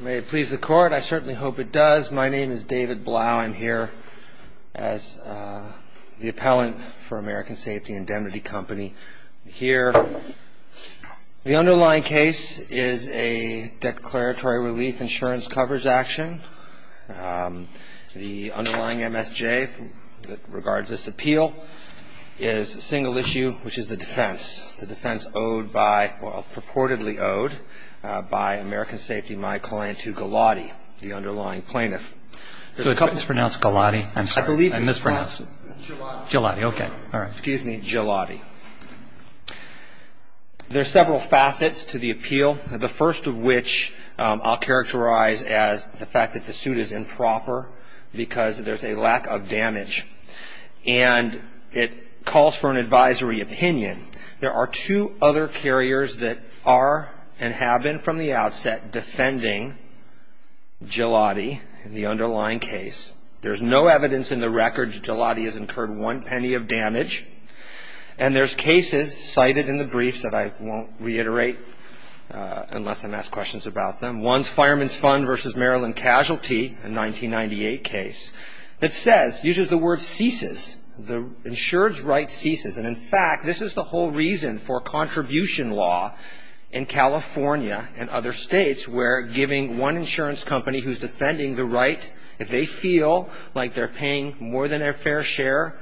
May it please the Court. I certainly hope it does. My name is David Blau. I'm here as the appellant for American Safety Indemnity Company. The underlying case is a declaratory relief insurance coverage action. The underlying MSJ that regards this appeal is a single case. The underlying plaintiff is my client Hugh Gilotti. There are several facets to the appeal. The first of which I'll characterize as the fact that the suit is improper because there's a lack of damage. And it calls for an advisory opinion. There are two other carriers that are and have been from the outset defending Gilotti in the underlying case. There's no evidence in the record that Gilotti has incurred one penny of damage. And there's cases cited in the briefs that I won't reiterate unless I'm asked questions about them. One's Fireman's Fund v. Maryland Casualty, a 1998 case, that says, uses the word ceases, the insurer's right ceases. And in fact, this is the whole reason for contribution law in California and other states where giving one insurance company who's defending the right, if they feel like they're paying more than their fair share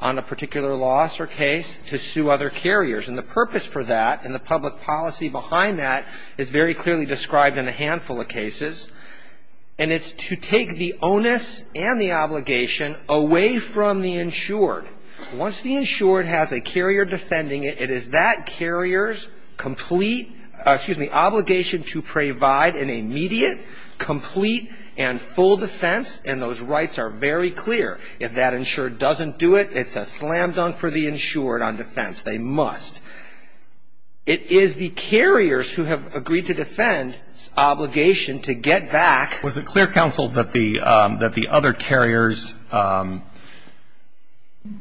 on a particular loss or case, to sue other carriers. And the purpose for that and the public policy behind that is very clearly described in a handful of cases. And it's to take the onus and the obligation away from the insured. Once the insured has a carrier defending it, it is that carrier's complete ‑‑ excuse me, obligation to provide an immediate, complete and full defense. And those rights are very clear. If that insured doesn't do it, it's a slam dunk for the insured on defense. They must. It is the carriers who have agreed to defend's obligation to get back ‑‑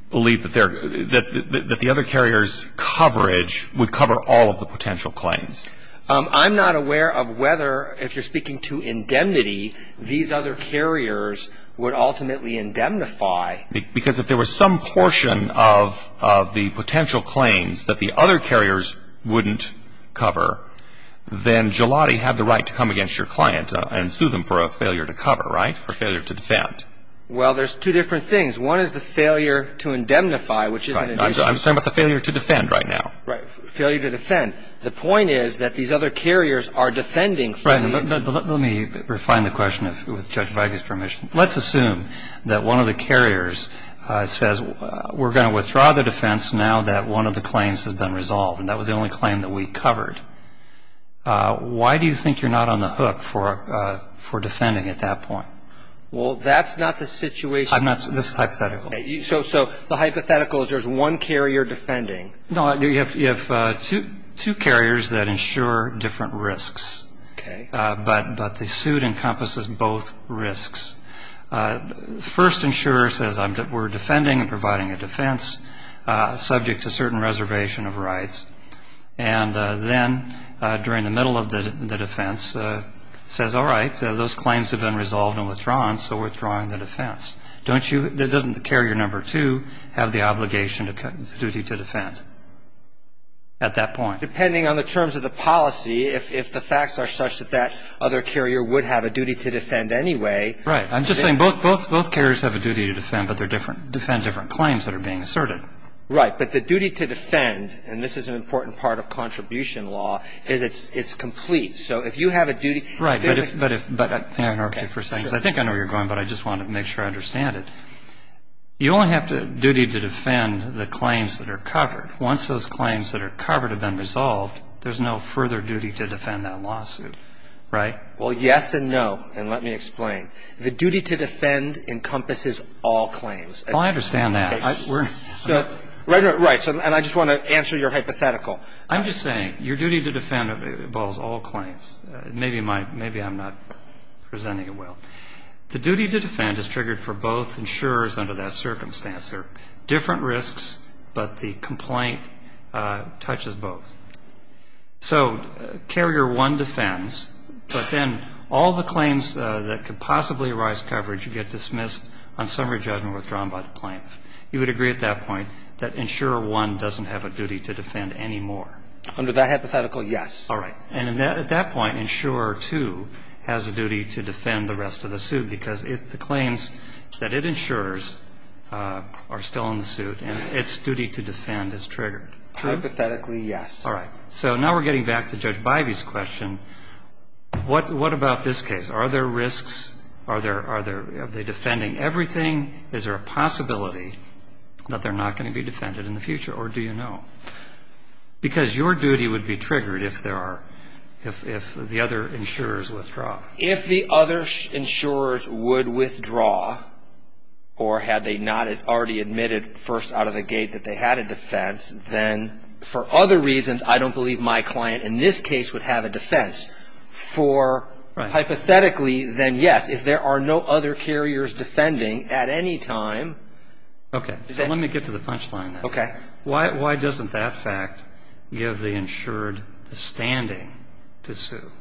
believe that the other carrier's coverage would cover all of the potential claims. I'm not aware of whether, if you're speaking to indemnity, these other carriers would ultimately indemnify. Because if there was some portion of the potential claims that the other carriers wouldn't cover, then Jilati had the right to come against your client and sue them for a failure to cover, right? For failure to defend. Well, there's two different things. One is the failure to indemnify, which is an ‑‑ I'm talking about the failure to defend right now. Right. Failure to defend. The point is that these other carriers are defending ‑‑ Right. But let me refine the question with Judge Veigas' permission. Let's assume that one of the carriers says, we're going to withdraw the defense now that one of the claims has been resolved. And that was the only claim that we covered. Why do you think you're not on the hook for defending at that point? Well, that's not the situation. I'm not. This is hypothetical. So the hypothetical is there's one carrier defending. No. You have two carriers that insure different risks. Okay. But the suit encompasses both risks. First insurer says, we're defending and providing a defense subject to certain reservation of rights. And then, during the middle of the case, the carrier says, I'm withdrawing, so we're withdrawing the defense. Doesn't the carrier number two have the obligation, the duty to defend at that point? Depending on the terms of the policy, if the facts are such that that other carrier would have a duty to defend anyway ‑‑ Right. I'm just saying both carriers have a duty to defend, but they defend different claims that are being asserted. Right. But the duty to defend, and this is an important part of contribution law, is it's complete. So if you have a duty ‑‑ Right. But if ‑‑ I don't know if you're saying this. I think I know where you're going, but I just want to make sure I understand it. You only have the duty to defend the claims that are covered. Once those claims that are covered have been resolved, there's no further duty to defend that lawsuit. Right? Well, yes and no. And let me explain. The duty to defend encompasses all claims. Well, I understand that. Okay. So, right. And I just want to answer your hypothetical. I'm just saying your duty to defend involves all claims. Maybe I'm not presenting it well. The duty to defend is triggered for both insurers under that circumstance. There are different risks, but the complaint touches both. So carrier one defends, but then all the claims that could possibly arise coverage get dismissed on summary judgment withdrawn by the plaintiff. You would agree at that point that insurer one doesn't have a duty to defend anymore? Under that hypothetical, yes. All right. And at that point, insurer two has a duty to defend the rest of the suit because the claims that it insures are still in the suit, and its duty to defend is triggered. Hypothetically, yes. All right. So now we're getting back to Judge Bivey's question. What about this case? Are there risks? Are they defending everything? Is there a possibility that they're not going to be defended in the future, or do you know? Because your duty would be triggered if there are, if the other insurers withdraw. If the other insurers would withdraw, or had they not already admitted first out of the gate that they had a defense, then for other reasons, I don't believe my client in this case would have a defense. For, hypothetically, then yes. If there are no other carriers defending at any time, then yes. Let me get to the punchline. Okay. Why doesn't that fact give the insured the standing to sue?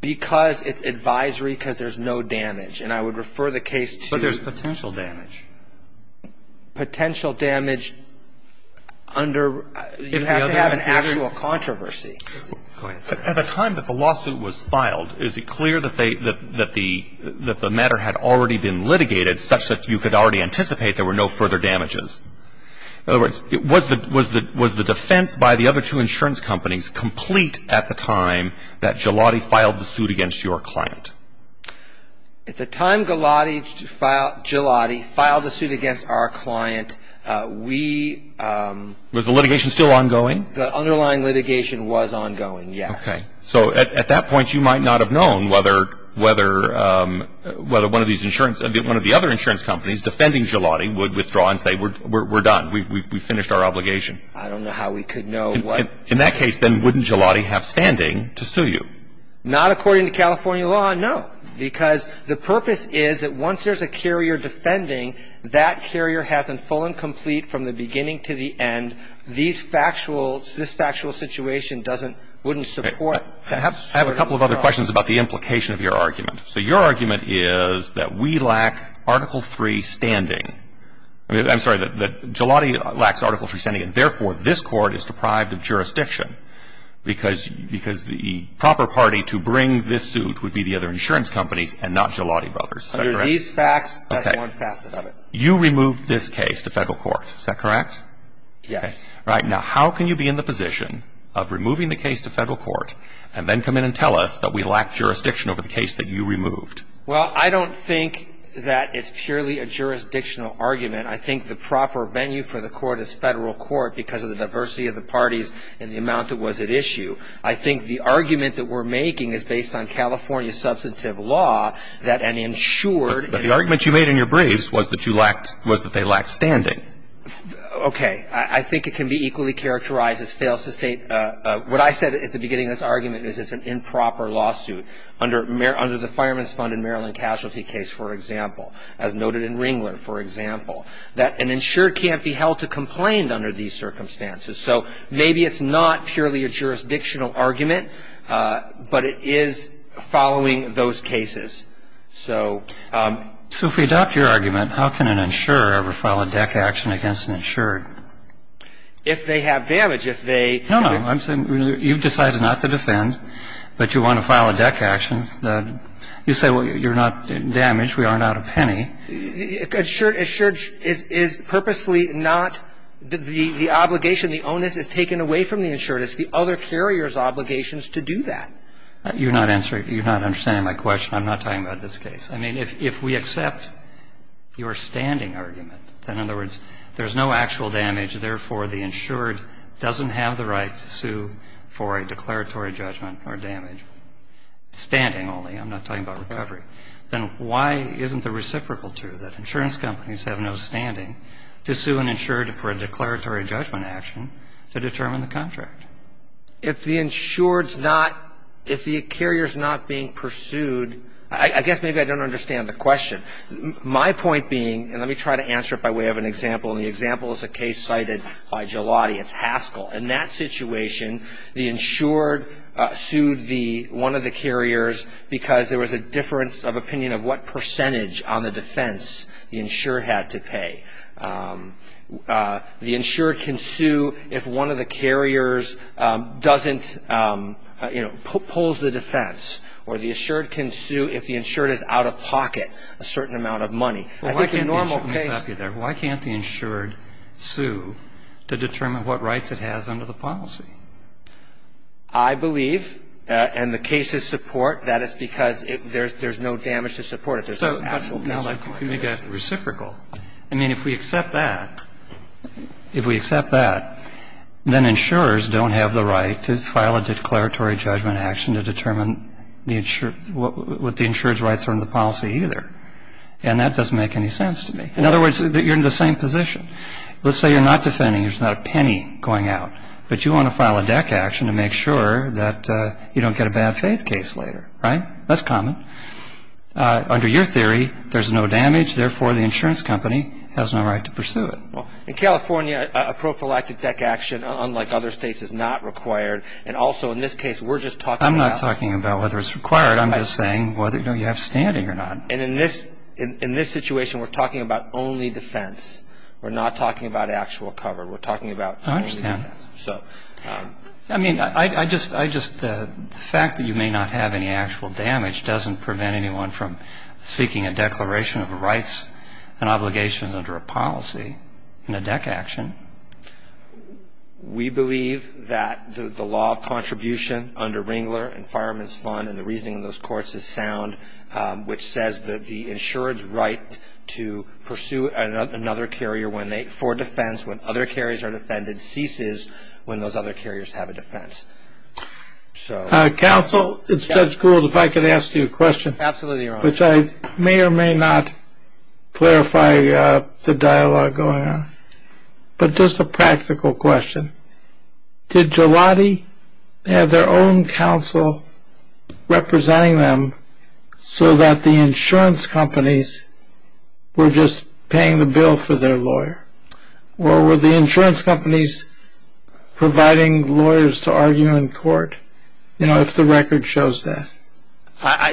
Because it's advisory, because there's no damage. And I would refer the case to the case. But there's potential damage. Potential damage under you have to have an actual controversy. At the time that the lawsuit was filed, is it clear that they, that the matter had already been litigated such that you could already anticipate there were no further damages? In other words, was the defense by the other two insurance companies complete at the time that Gelati filed the suit against your client? At the time Gelati filed the suit against our client, we Was the litigation still ongoing? The underlying litigation was ongoing, yes. Okay. So at that point, you might not have known whether one of these insurance, one of the other insurance companies defending Gelati would withdraw and say we're done, we've finished our obligation. I don't know how we could know what In that case, then, wouldn't Gelati have standing to sue you? Not according to California law, no. Because the purpose is that once there's a carrier defending, that carrier hasn't fallen complete from the beginning to the end. And these factual, this factual situation doesn't, wouldn't support that sort of withdrawal. I have a couple of other questions about the implication of your argument. So your argument is that we lack Article III standing. I'm sorry, that Gelati lacks Article III standing and therefore this Court is deprived of jurisdiction because the proper party to bring this suit would be the other insurance companies and not Gelati Brothers. Is that correct? Under these facts, that's one facet of it. Okay. You removed this case to Federal court. Is that correct? Yes. Right. Now, how can you be in the position of removing the case to Federal court and then come in and tell us that we lack jurisdiction over the case that you removed? Well, I don't think that it's purely a jurisdictional argument. I think the proper venue for the court is Federal court because of the diversity of the parties and the amount that was at issue. I think the argument that we're making is based on California substantive law that an insured But the argument you made in your briefs was that you lacked, was that they lacked standing. Okay. I think it can be equally characterized as fails to state what I said at the beginning of this argument is it's an improper lawsuit under the Fireman's Fund in Maryland casualty case, for example, as noted in Ringler, for example, that an insured can't be held to complain under these circumstances. So maybe it's not purely a jurisdictional argument, but it is following those cases. So if we adopt your argument, how can an insurer ever file a deck action against an insured? If they have damage. No, no. I'm saying you've decided not to defend, but you want to file a deck action. You say, well, you're not damaged. We aren't out a penny. Insured is purposefully not the obligation. The onus is taken away from the insured. It's the other carrier's obligations to do that. You're not answering. You're not understanding my question. I'm not talking about this case. I mean, if we accept your standing argument, in other words, there's no actual damage, therefore the insured doesn't have the right to sue for a declaratory judgment or damage, standing only. I'm not talking about recovery. Then why isn't the reciprocal true, that insurance companies have no standing to sue an insured for a declaratory judgment action to determine the contract? If the insured's not, if the carrier's not being pursued, I guess maybe I don't understand the question. My point being, and let me try to answer it by way of an example, and the example is a case cited by Gelati. It's Haskell. In that situation, the insured sued one of the carriers because there was a difference of opinion of what percentage on the defense the insured had to pay. The insured can sue if one of the carriers doesn't, you know, pulls the defense, or the insured can sue if the insured is out of pocket a certain amount of money. I think a normal case Why can't the insured sue to determine what rights it has under the policy? I believe, and the cases support, that it's because there's no damage to support it. There's no actual damage. I mean, if we accept that, if we accept that, then insurers don't have the right to file a declaratory judgment action to determine what the insured's rights are under the policy either. And that doesn't make any sense to me. In other words, you're in the same position. Let's say you're not defending. There's not a penny going out. But you want to file a deck action to make sure that you don't get a bad faith case later. Right? That's common. Under your theory, there's no damage. Therefore, the insurance company has no right to pursue it. In California, a prophylactic deck action, unlike other states, is not required. And also, in this case, we're just talking about I'm not talking about whether it's required. I'm just saying whether you have standing or not. And in this situation, we're talking about only defense. We're not talking about actual cover. We're talking about only defense. I understand. But the fact that you may not have any actual damage doesn't prevent anyone from seeking a declaration of rights and obligations under a policy in a deck action. We believe that the law of contribution under Ringler and Fireman's Fund and the reasoning of those courts is sound, which says that the insured's right to pursue another carrier for defense when other carriers are defended ceases when those other carriers have a defense. Counsel, if Judge Gould, if I could ask you a question. Absolutely, Your Honor. Which I may or may not clarify the dialogue going on. But just a practical question. Did Jiladi have their own counsel representing them so that the insurance companies were just paying the bill for their lawyer? Or were the insurance companies providing lawyers to argue in court? You know, if the record shows that.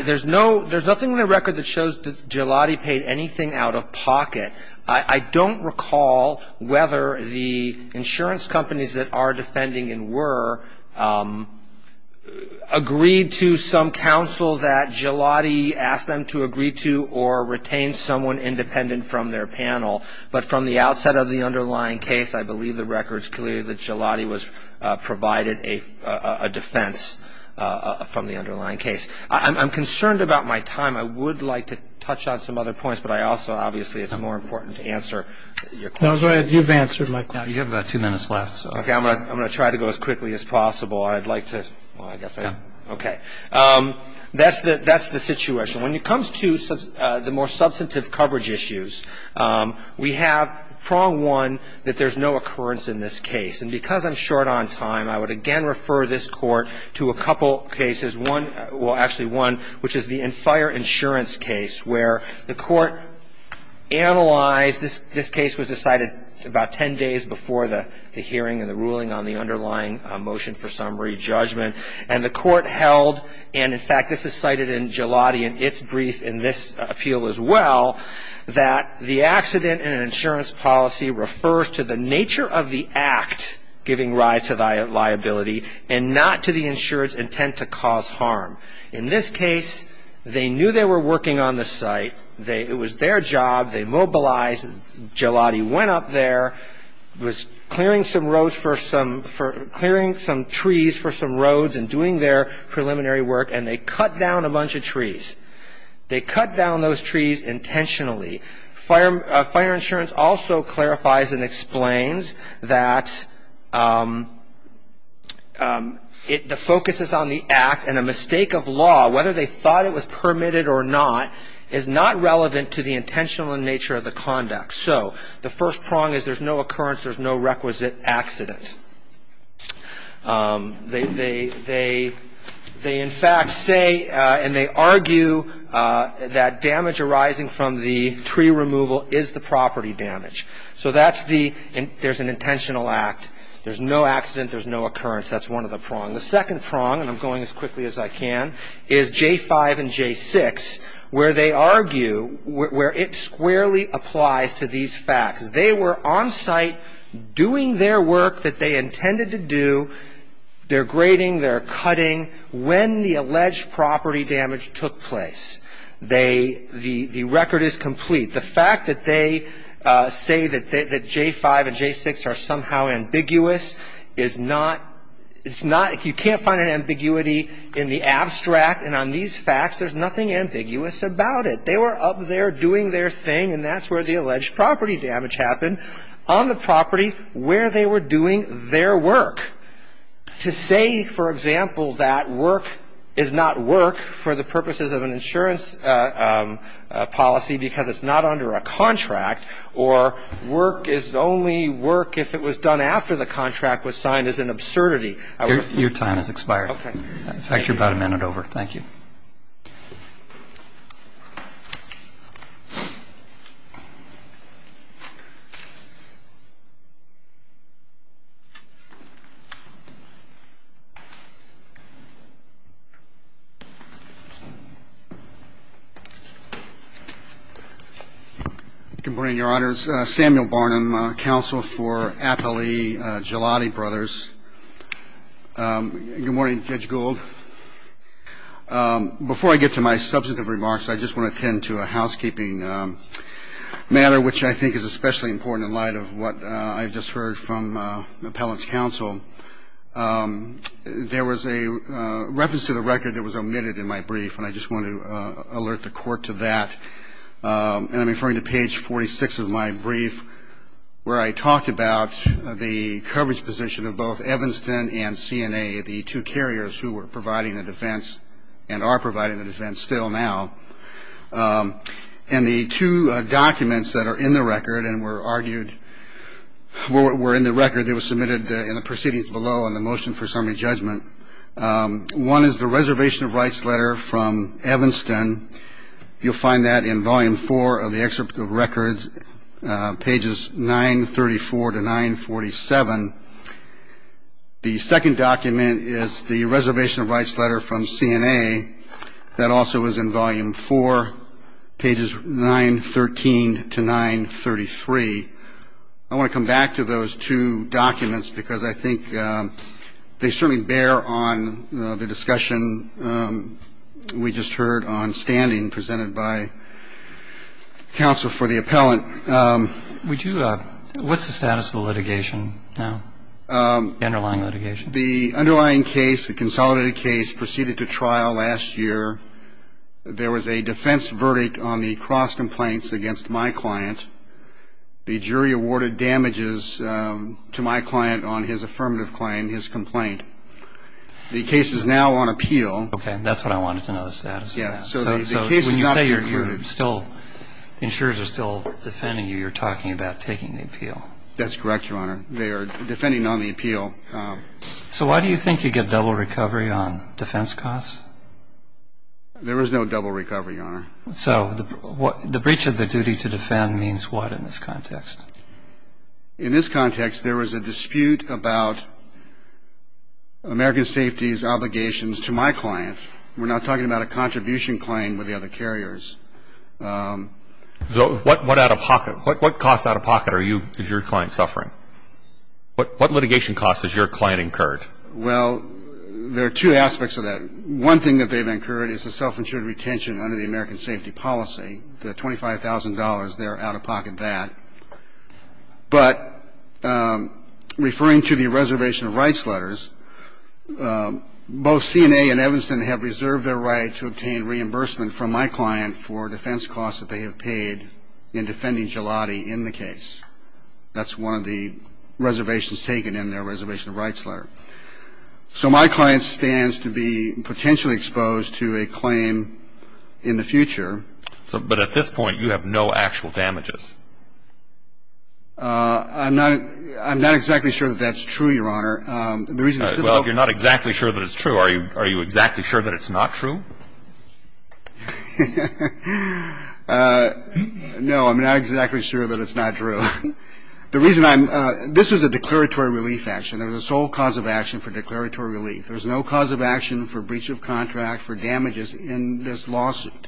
There's nothing in the record that shows that Jiladi paid anything out of pocket. I don't recall whether the insurance companies that are defending and were agreed to some counsel that Jiladi asked them to agree to or retain someone independent from their panel. But from the outset of the underlying case, I believe the record's clear that Jiladi provided a defense from the underlying case. I'm concerned about my time. I would like to touch on some other points, but I also obviously it's more important to answer your question. No, go ahead. You've answered my question. You have about two minutes left. Okay, I'm going to try to go as quickly as possible. I'd like to, well, I guess I, okay. That's the situation. When it comes to the more substantive coverage issues, we have prong one that there's no occurrence in this case. And because I'm short on time, I would again refer this Court to a couple cases, one, well, actually one, which is the Enfire Insurance case, where the Court analyzed this case was decided about ten days before the hearing and the ruling on the underlying motion for summary judgment. And the Court held, and in fact, this is cited in Jiladi in its brief in this appeal as well, that the accident in an insurance policy refers to the nature of the act giving rise to liability and not to the insurer's intent to cause harm. In this case, they knew they were working on the site. It was their job. They mobilized. Jiladi went up there, was clearing some roads for some, clearing some trees for some roads and doing their preliminary work, and they cut down a bunch of trees. They cut down those trees intentionally. Fire insurance also clarifies and explains that the focus is on the act, and a mistake of law, whether they thought it was permitted or not, is not relevant to the intentional nature of the conduct. So the first prong is there's no occurrence, there's no requisite accident. They, in fact, say and they argue that damage arising from the tree removal is the property damage. So there's an intentional act. There's no accident. There's no occurrence. That's one of the prongs. The second prong, and I'm going as quickly as I can, is J-5 and J-6, where they argue where it squarely applies to these facts. They were on site doing their work that they intended to do. They're grading. They're cutting. When the alleged property damage took place, they, the record is complete. The fact that they say that J-5 and J-6 are somehow ambiguous is not, it's not, you can't find an ambiguity in the abstract. And on these facts, there's nothing ambiguous about it. They were up there doing their thing, and that's where the alleged property damage happened, on the property where they were doing their work. To say, for example, that work is not work for the purposes of an insurance policy because it's not under a contract or work is only work if it was done after the contract was signed is an absurdity. Your time has expired. Okay. In fact, you're about a minute over. Thank you. Good morning, Your Honors. Samuel Barnum, counsel for Appellee Gelati Brothers. Good morning, Judge Gould. Before I get to my substantive remarks, I just want to tend to a housekeeping matter, which I think is especially important in light of what I've just heard from the appellant's counsel. There was a reference to the record that was omitted in my brief, and I just want to alert the Court to that. And I'm referring to page 46 of my brief where I talked about the coverage position of both Evanston and CNA, the two carriers who were providing the defense and are providing the defense still now. And the two documents that are in the record and were argued were in the record, they were submitted in the proceedings below in the motion for summary judgment. One is the reservation of rights letter from Evanston. You'll find that in volume four of the excerpt of records, pages 934 to 947. The second document is the reservation of rights letter from CNA. That also is in volume four, pages 913 to 933. I want to come back to those two documents because I think they certainly bear on the discussion we just heard on standing presented by counsel for the appellant. What's the status of the litigation now, the underlying litigation? The underlying case, the consolidated case, proceeded to trial last year. There was a defense verdict on the cross complaints against my client. The jury awarded damages to my client on his affirmative claim, his complaint. The case is now on appeal. Okay, that's what I wanted to know, the status of that. So when you say you're still, insurers are still defending you, you're talking about taking the appeal. That's correct, Your Honor. They are defending on the appeal. So why do you think you get double recovery on defense costs? There is no double recovery, Your Honor. So the breach of the duty to defend means what in this context? In this context, there was a dispute about American Safety's obligations to my client. We're not talking about a contribution claim with the other carriers. So what out-of-pocket, what costs out-of-pocket are you, is your client suffering? What litigation costs is your client incurred? Well, there are two aspects of that. One thing that they've incurred is a self-insured retention under the American Safety Policy, the $25,000, they're out-of-pocket that. But referring to the reservation of rights letters, both CNA and Evanston have reserved their right to obtain reimbursement from my client for defense costs that they have paid in defending Gelati in the case. That's one of the reservations taken in their reservation of rights letter. So my client stands to be potentially exposed to a claim in the future. But at this point, you have no actual damages. I'm not exactly sure that that's true, Your Honor. Well, if you're not exactly sure that it's true, are you exactly sure that it's not true? No, I'm not exactly sure that it's not true. The reason I'm – this was a declaratory relief action. There was a sole cause of action for declaratory relief. There's no cause of action for breach of contract for damages in this lawsuit.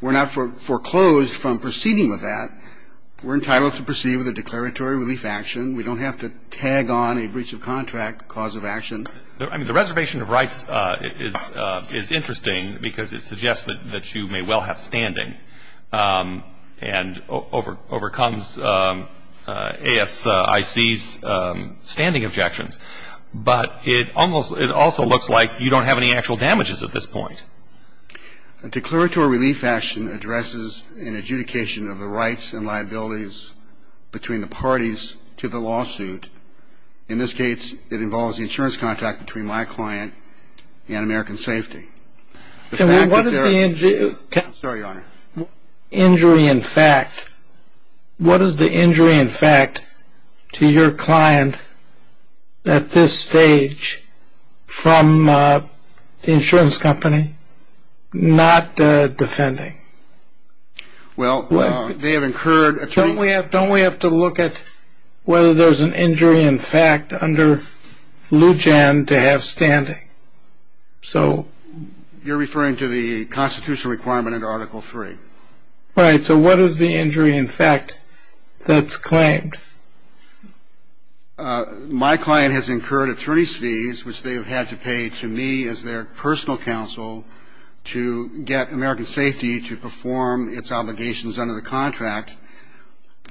We're not foreclosed from proceeding with that. We're entitled to proceed with a declaratory relief action. We don't have to tag on a breach of contract cause of action. I mean, the reservation of rights is interesting because it suggests that you may well have standing and overcomes ASIC's standing objections. But it almost – it also looks like you don't have any actual damages at this point. A declaratory relief action addresses an adjudication of the rights and liabilities between the parties to the lawsuit. In this case, it involves the insurance contract between my client and American Safety. And what is the injury – I'm sorry, Your Honor. Injury in fact. What is the injury in fact to your client at this stage from the insurance company not defending? Well, they have incurred – Don't we have to look at whether there's an injury in fact under Lujan to have standing? You're referring to the constitutional requirement under Article III. Right. So what is the injury in fact that's claimed? My client has incurred attorney's fees, which they have had to pay to me as their personal counsel to get American Safety to perform its obligations under the contract.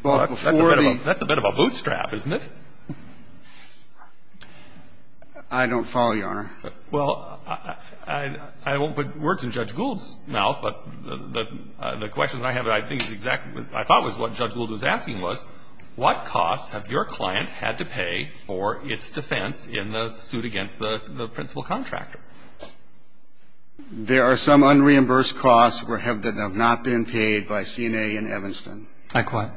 That's a bit of a bootstrap, isn't it? I don't follow, Your Honor. Well, I won't put words in Judge Gould's mouth, but the question that I have that I think is exactly – I thought was what Judge Gould was asking was, what costs have your client had to pay for its defense in the suit against the principal contractor? There are some unreimbursed costs that have not been paid by CNA and Evanston. Like what?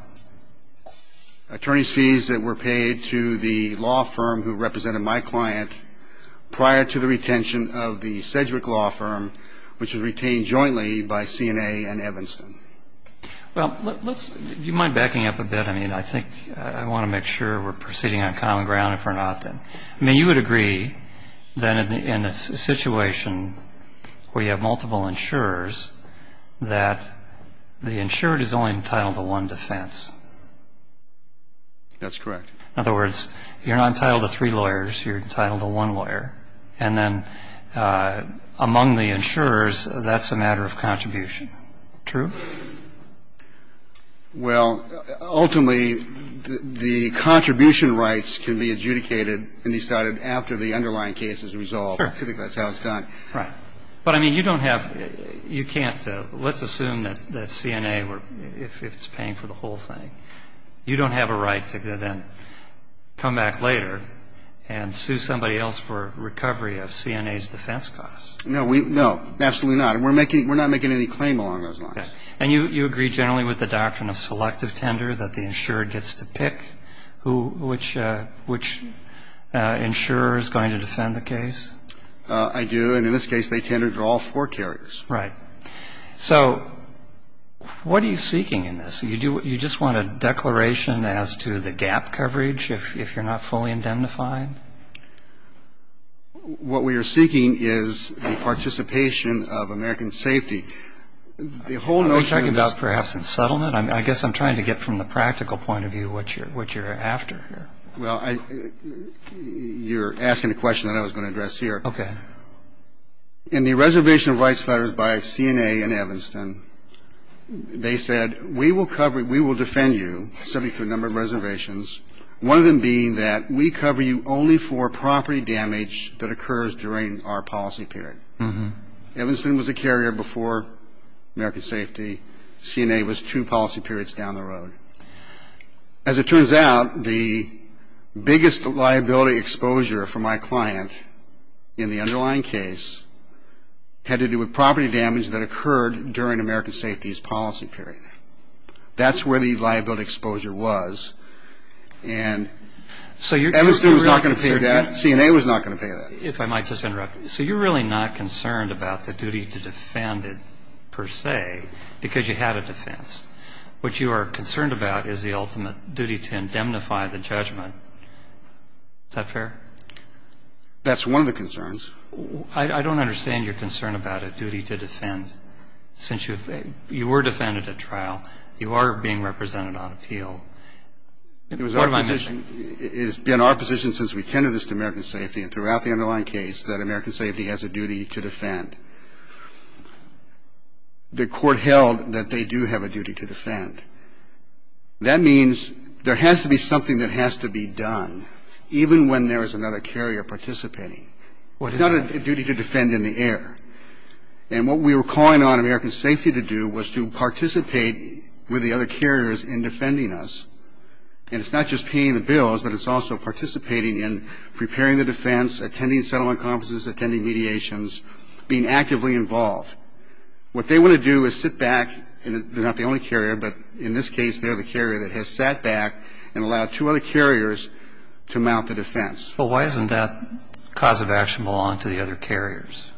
Attorney's fees that were paid to the law firm who represented my client prior to the retention of the Sedgwick Law Firm, which was retained jointly by CNA and Evanston. Well, let's – do you mind backing up a bit? I mean, I think I want to make sure we're proceeding on common ground, if we're not then. I mean, you would agree that in a situation where you have multiple insurers, that the insured is only entitled to one defense. That's correct. In other words, you're not entitled to three lawyers. You're entitled to one lawyer. And then among the insurers, that's a matter of contribution. True? Well, ultimately, the contribution rights can be adjudicated and decided after the underlying case is resolved. Sure. I think that's how it's done. Right. But, I mean, you don't have – you can't – let's assume that CNA were – if it's paying for the whole thing, you don't have a right to then come back later and sue somebody else for recovery of CNA's defense costs. No, we – no. Absolutely not. And we're making – we're not making any claim along those lines. And you agree generally with the doctrine of selective tender, that the insurer gets to pick who – which insurer is going to defend the case? I do. And in this case, they tend to draw four carriers. Right. So what are you seeking in this? You just want a declaration as to the gap coverage if you're not fully indemnified? What we are seeking is the participation of American safety. The whole notion of this – Are you talking about perhaps in settlement? I guess I'm trying to get from the practical point of view what you're after here. Well, you're asking a question that I was going to address here. Okay. In the reservation of rights letters by CNA and Evanston, they said, we will cover – we will defend you subject to a number of reservations, one of them being that we cover you only for property damage that occurs during our policy period. Mm-hmm. Evanston was a carrier before American safety. CNA was two policy periods down the road. As it turns out, the biggest liability exposure for my client in the underlying case had to do with property damage that occurred during American safety's policy period. That's where the liability exposure was. And Evanston was not going to pay that. CNA was not going to pay that. If I might just interrupt. So you're really not concerned about the duty to defend it, per se, because you had a defense. What you are concerned about is the ultimate duty to indemnify the judgment. Is that fair? That's one of the concerns. I don't understand your concern about a duty to defend. Since you were defended at trial, you are being represented on appeal. What am I missing? It has been our position since we tendered this to American safety and throughout the underlying case that American safety has a duty to defend. The court held that they do have a duty to defend. That means there has to be something that has to be done, even when there is another carrier participating. Well, it's not a duty to defend in the air. And what we were calling on American safety to do was to participate with the other carriers in defending us. And it's not just paying the bills, but it's also participating in preparing the defense, attending settlement conferences, attending mediations, being actively involved. What they want to do is sit back, and they're not the only carrier, but in this case they're the carrier that has sat back and allowed two other carriers to mount the defense. But why doesn't that cause of action belong to the other carriers?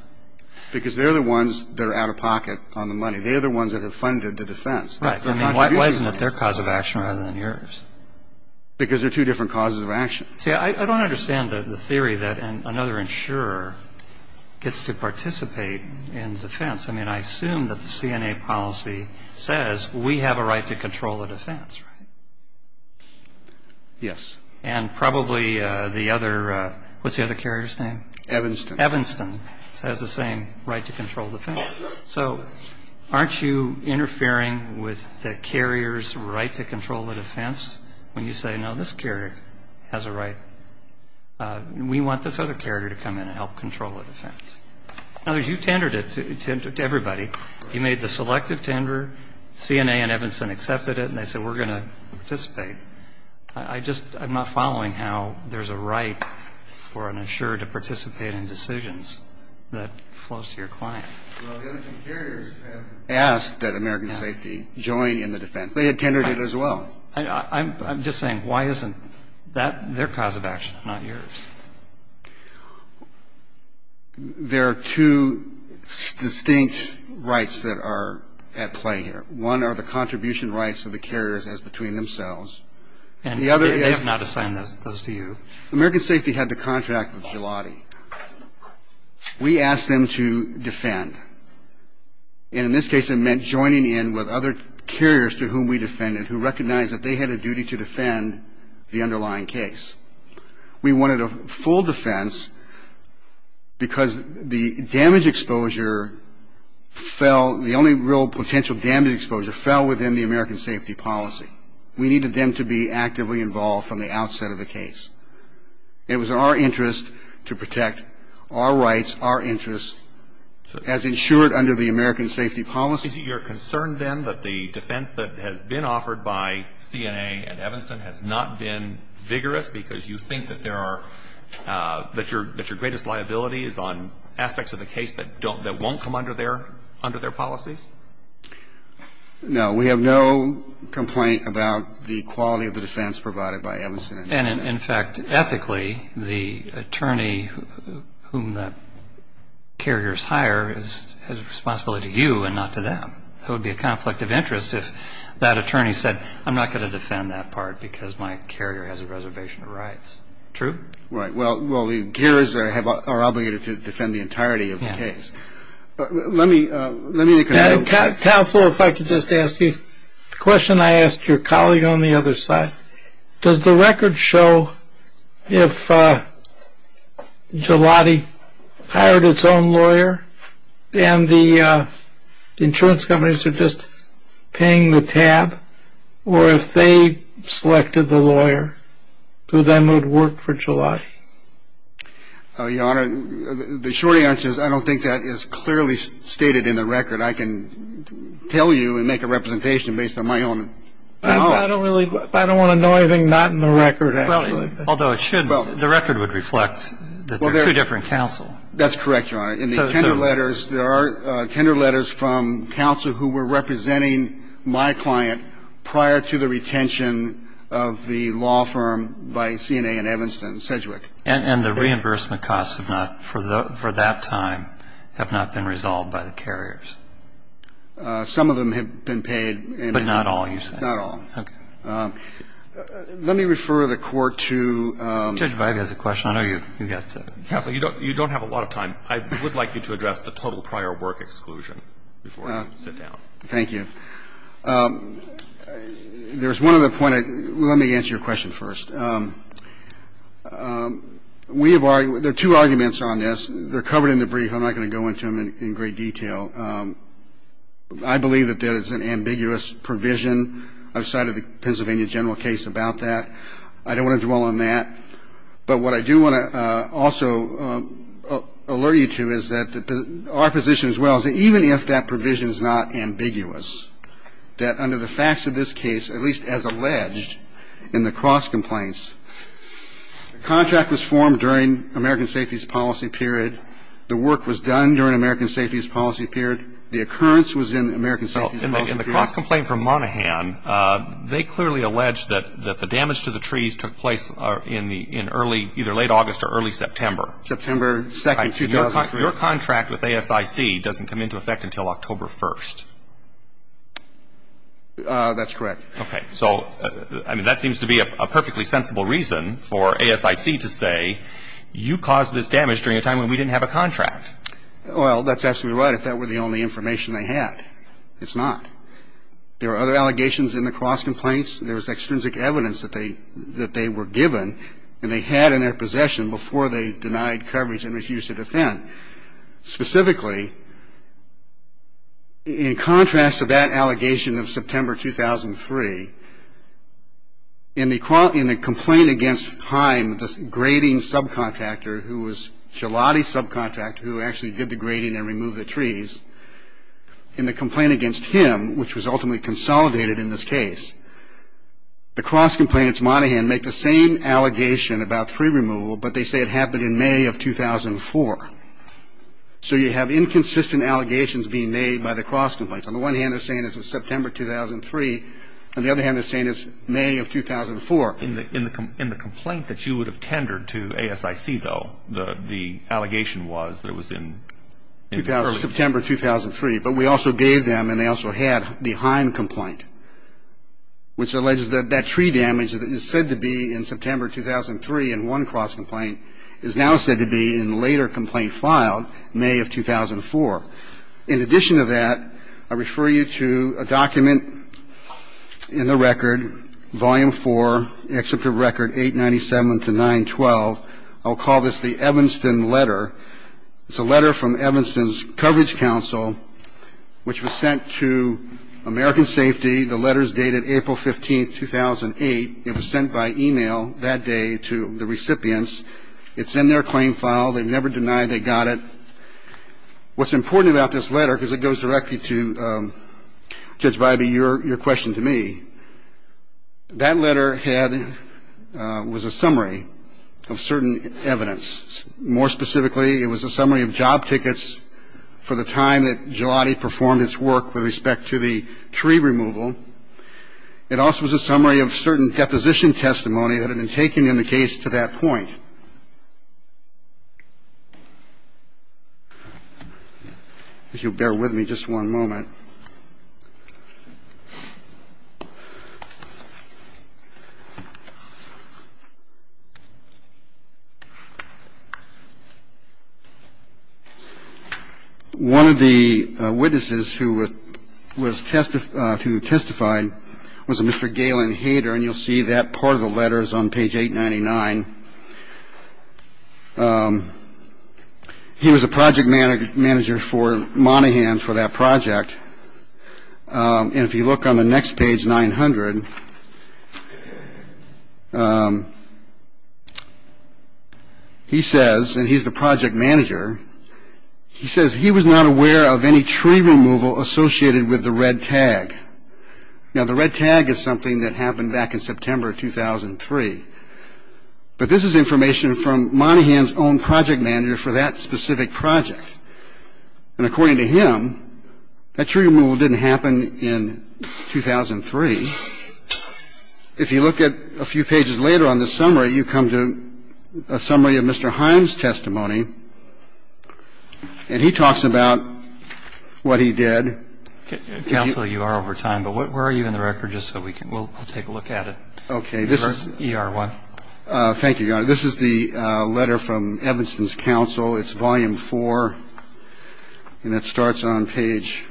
Because they're the ones that are out of pocket on the money. They're the ones that have funded the defense. Why isn't it their cause of action rather than yours? Because they're two different causes of action. See, I don't understand the theory that another insurer gets to participate in defense. I mean, I assume that the CNA policy says we have a right to control the defense, right? Yes. And probably the other – what's the other carrier's name? Evanston. Evanston has the same right to control defense. So aren't you interfering with the carrier's right to control the defense when you say, no, this carrier has a right. We want this other carrier to come in and help control the defense. In other words, you tendered it to everybody. You made the selective tender. CNA and Evanston accepted it, and they said we're going to participate. I just am not following how there's a right for an insurer to participate in decisions that flows to your client. Well, the other two carriers have asked that American Safety join in the defense. They had tendered it as well. I'm just saying, why isn't that their cause of action, not yours? There are two distinct rights that are at play here. One are the contribution rights of the carriers as between themselves. And they have not assigned those to you. American Safety had the contract with Gilotti. We asked them to defend. And in this case, it meant joining in with other carriers to whom we defended who recognized that they had a duty to defend the underlying case. We wanted a full defense because the damage exposure fell, the only real potential damage exposure fell within the American Safety policy. We needed them to be actively involved from the outset of the case. It was our interest to protect our rights, our interests, as insured under the American Safety policy. So you're concerned, then, that the defense that has been offered by CNA and Evanston has not been vigorous because you think that there are, that your greatest liability is on aspects of the case that don't, that won't come under their, under their policies? No. We have no complaint about the quality of the defense provided by Evanston and CNA. And, in fact, ethically, the attorney whom the carriers hire has responsibility to you and not to them. It would be a conflict of interest if that attorney said, I'm not going to defend that part because my carrier has a reservation of rights. True? Right. Well, the carriers are obligated to defend the entirety of the case. Let me, let me look at that. Counsel, if I could just ask you, the question I asked your colleague on the other side, does the record show if Gelati hired its own lawyer and the insurance companies are just paying the tab, or if they selected the lawyer, do then it would work for Gelati? Your Honor, the short answer is I don't think that is clearly stated in the record. I can tell you and make a representation based on my own knowledge. I don't really, I don't want to know anything not in the record, actually. Although it should, the record would reflect that they're two different counsel. That's correct, Your Honor. In the tender letters, there are tender letters from counsel who were representing my client prior to the retention of the law firm by CNA and Evanston, Sedgwick. And the reimbursement costs have not, for that time, have not been resolved by the carriers? Some of them have been paid. But not all, you said. Not all. Okay. Let me refer the Court to the other questions. I know you've got to. Counsel, you don't have a lot of time. I would like you to address the total prior work exclusion before I sit down. Thank you. There's one other point. Let me answer your question first. We have argued, there are two arguments on this. They're covered in the brief. I'm not going to go into them in great detail. I believe that there is an ambiguous provision outside of the Pennsylvania general case about that. I don't want to dwell on that. But what I do want to also alert you to is that our position as well is that even if that provision is not ambiguous, that under the facts of this case, at least as alleged in the cross complaints, the contract was formed during American Safety's policy period, the work was done during American Safety's policy period, the occurrence was in American Safety's policy period. In the cross complaint from Monaghan, they clearly allege that the damage to the trees took place in early, either late August or early September. September 2nd, 2003. Your contract with ASIC doesn't come into effect until October 1st. That's correct. Okay. So, I mean, that seems to be a perfectly sensible reason for ASIC to say, you caused this damage during a time when we didn't have a contract. Well, that's absolutely right if that were the only information they had. It's not. There are other allegations in the cross complaints. There's extrinsic evidence that they were given and they had in their possession before they denied coverage and refused to defend. Specifically, in contrast to that allegation of September 2003, in the complaint against Heim, the grading subcontractor who was Gelati's subcontractor, who actually did the grading and removed the trees, in the complaint against him, which was ultimately consolidated in this case, the cross complainants, Monaghan, make the same allegation about tree removal, but they say it happened in May of 2004. So you have inconsistent allegations being made by the cross complaints. On the one hand, they're saying it's September 2003. On the other hand, they're saying it's May of 2004. In the complaint that you would have tendered to ASIC, though, the allegation was that it was in early September 2003. But we also gave them and they also had the Heim complaint, which alleges that that tree damage that is said to be in September 2003 in one cross complaint is now said to be in the later complaint filed, May of 2004. In addition to that, I refer you to a document in the record, Volume 4, Excerpt of Record 897-912. I will call this the Evanston letter. It's a letter from Evanston's Coverage Council, which was sent to American Safety. The letters dated April 15, 2008. It was sent by e-mail that day to the recipients. It's in their claim file. They never denied they got it. What's important about this letter, because it goes directly to, Judge Bybee, your question to me, that letter was a summary of certain evidence. More specifically, it was a summary of job tickets for the time that Gelati performed its work with respect to the tree removal. It also was a summary of certain deposition testimony that had been taken in the case to that point. If you'll bear with me just one moment. One of the witnesses who testified was a Mr. Galen Hader, and you'll see that part of the letter is on page 899. He was a project manager for Monaghan for that project. And if you look on the next page, 900, he says, and he's the project manager, he says he was not aware of any tree removal associated with the red tag. Now, the red tag is something that happened back in September 2003. But this is information from Monaghan's own project manager for that specific project. And according to him, that tree removal didn't happen in 2003. If you look at a few pages later on this summary, you come to a summary of Mr. Heim's testimony. And he talks about what he did. Counsel, you are over time, but where are you in the record just so we can take a look at it? Okay. This is ER1. Thank you, Your Honor. This is the letter from Evanston's counsel. It's volume 4, and it starts on page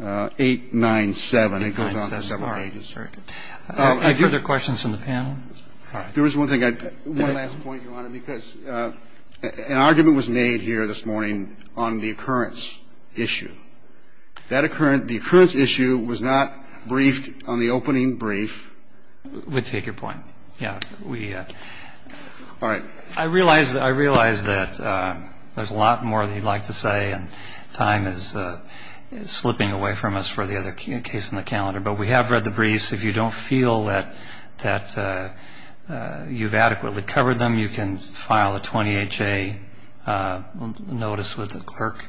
897. It goes on for several pages. Any further questions from the panel? There is one thing. One last point, Your Honor, because an argument was made here this morning on the occurrence issue. The occurrence issue was not briefed on the opening brief. We take your point. Yeah. All right. I realize that there's a lot more that you'd like to say, and time is slipping away from us for the other case in the calendar. But we have read the briefs. If you don't feel that you've adequately covered them, you can file a 20HA notice with the clerk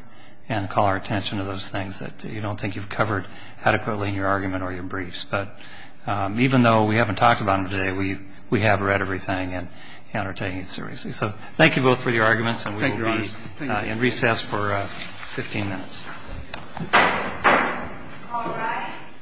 and call our attention to those things that you don't think you've covered adequately in your argument or your briefs. But even though we haven't talked about them today, we have read everything and are taking it seriously. So thank you both for your arguments. Thank you, Your Honor. And we will be in recess for 15 minutes. All rise.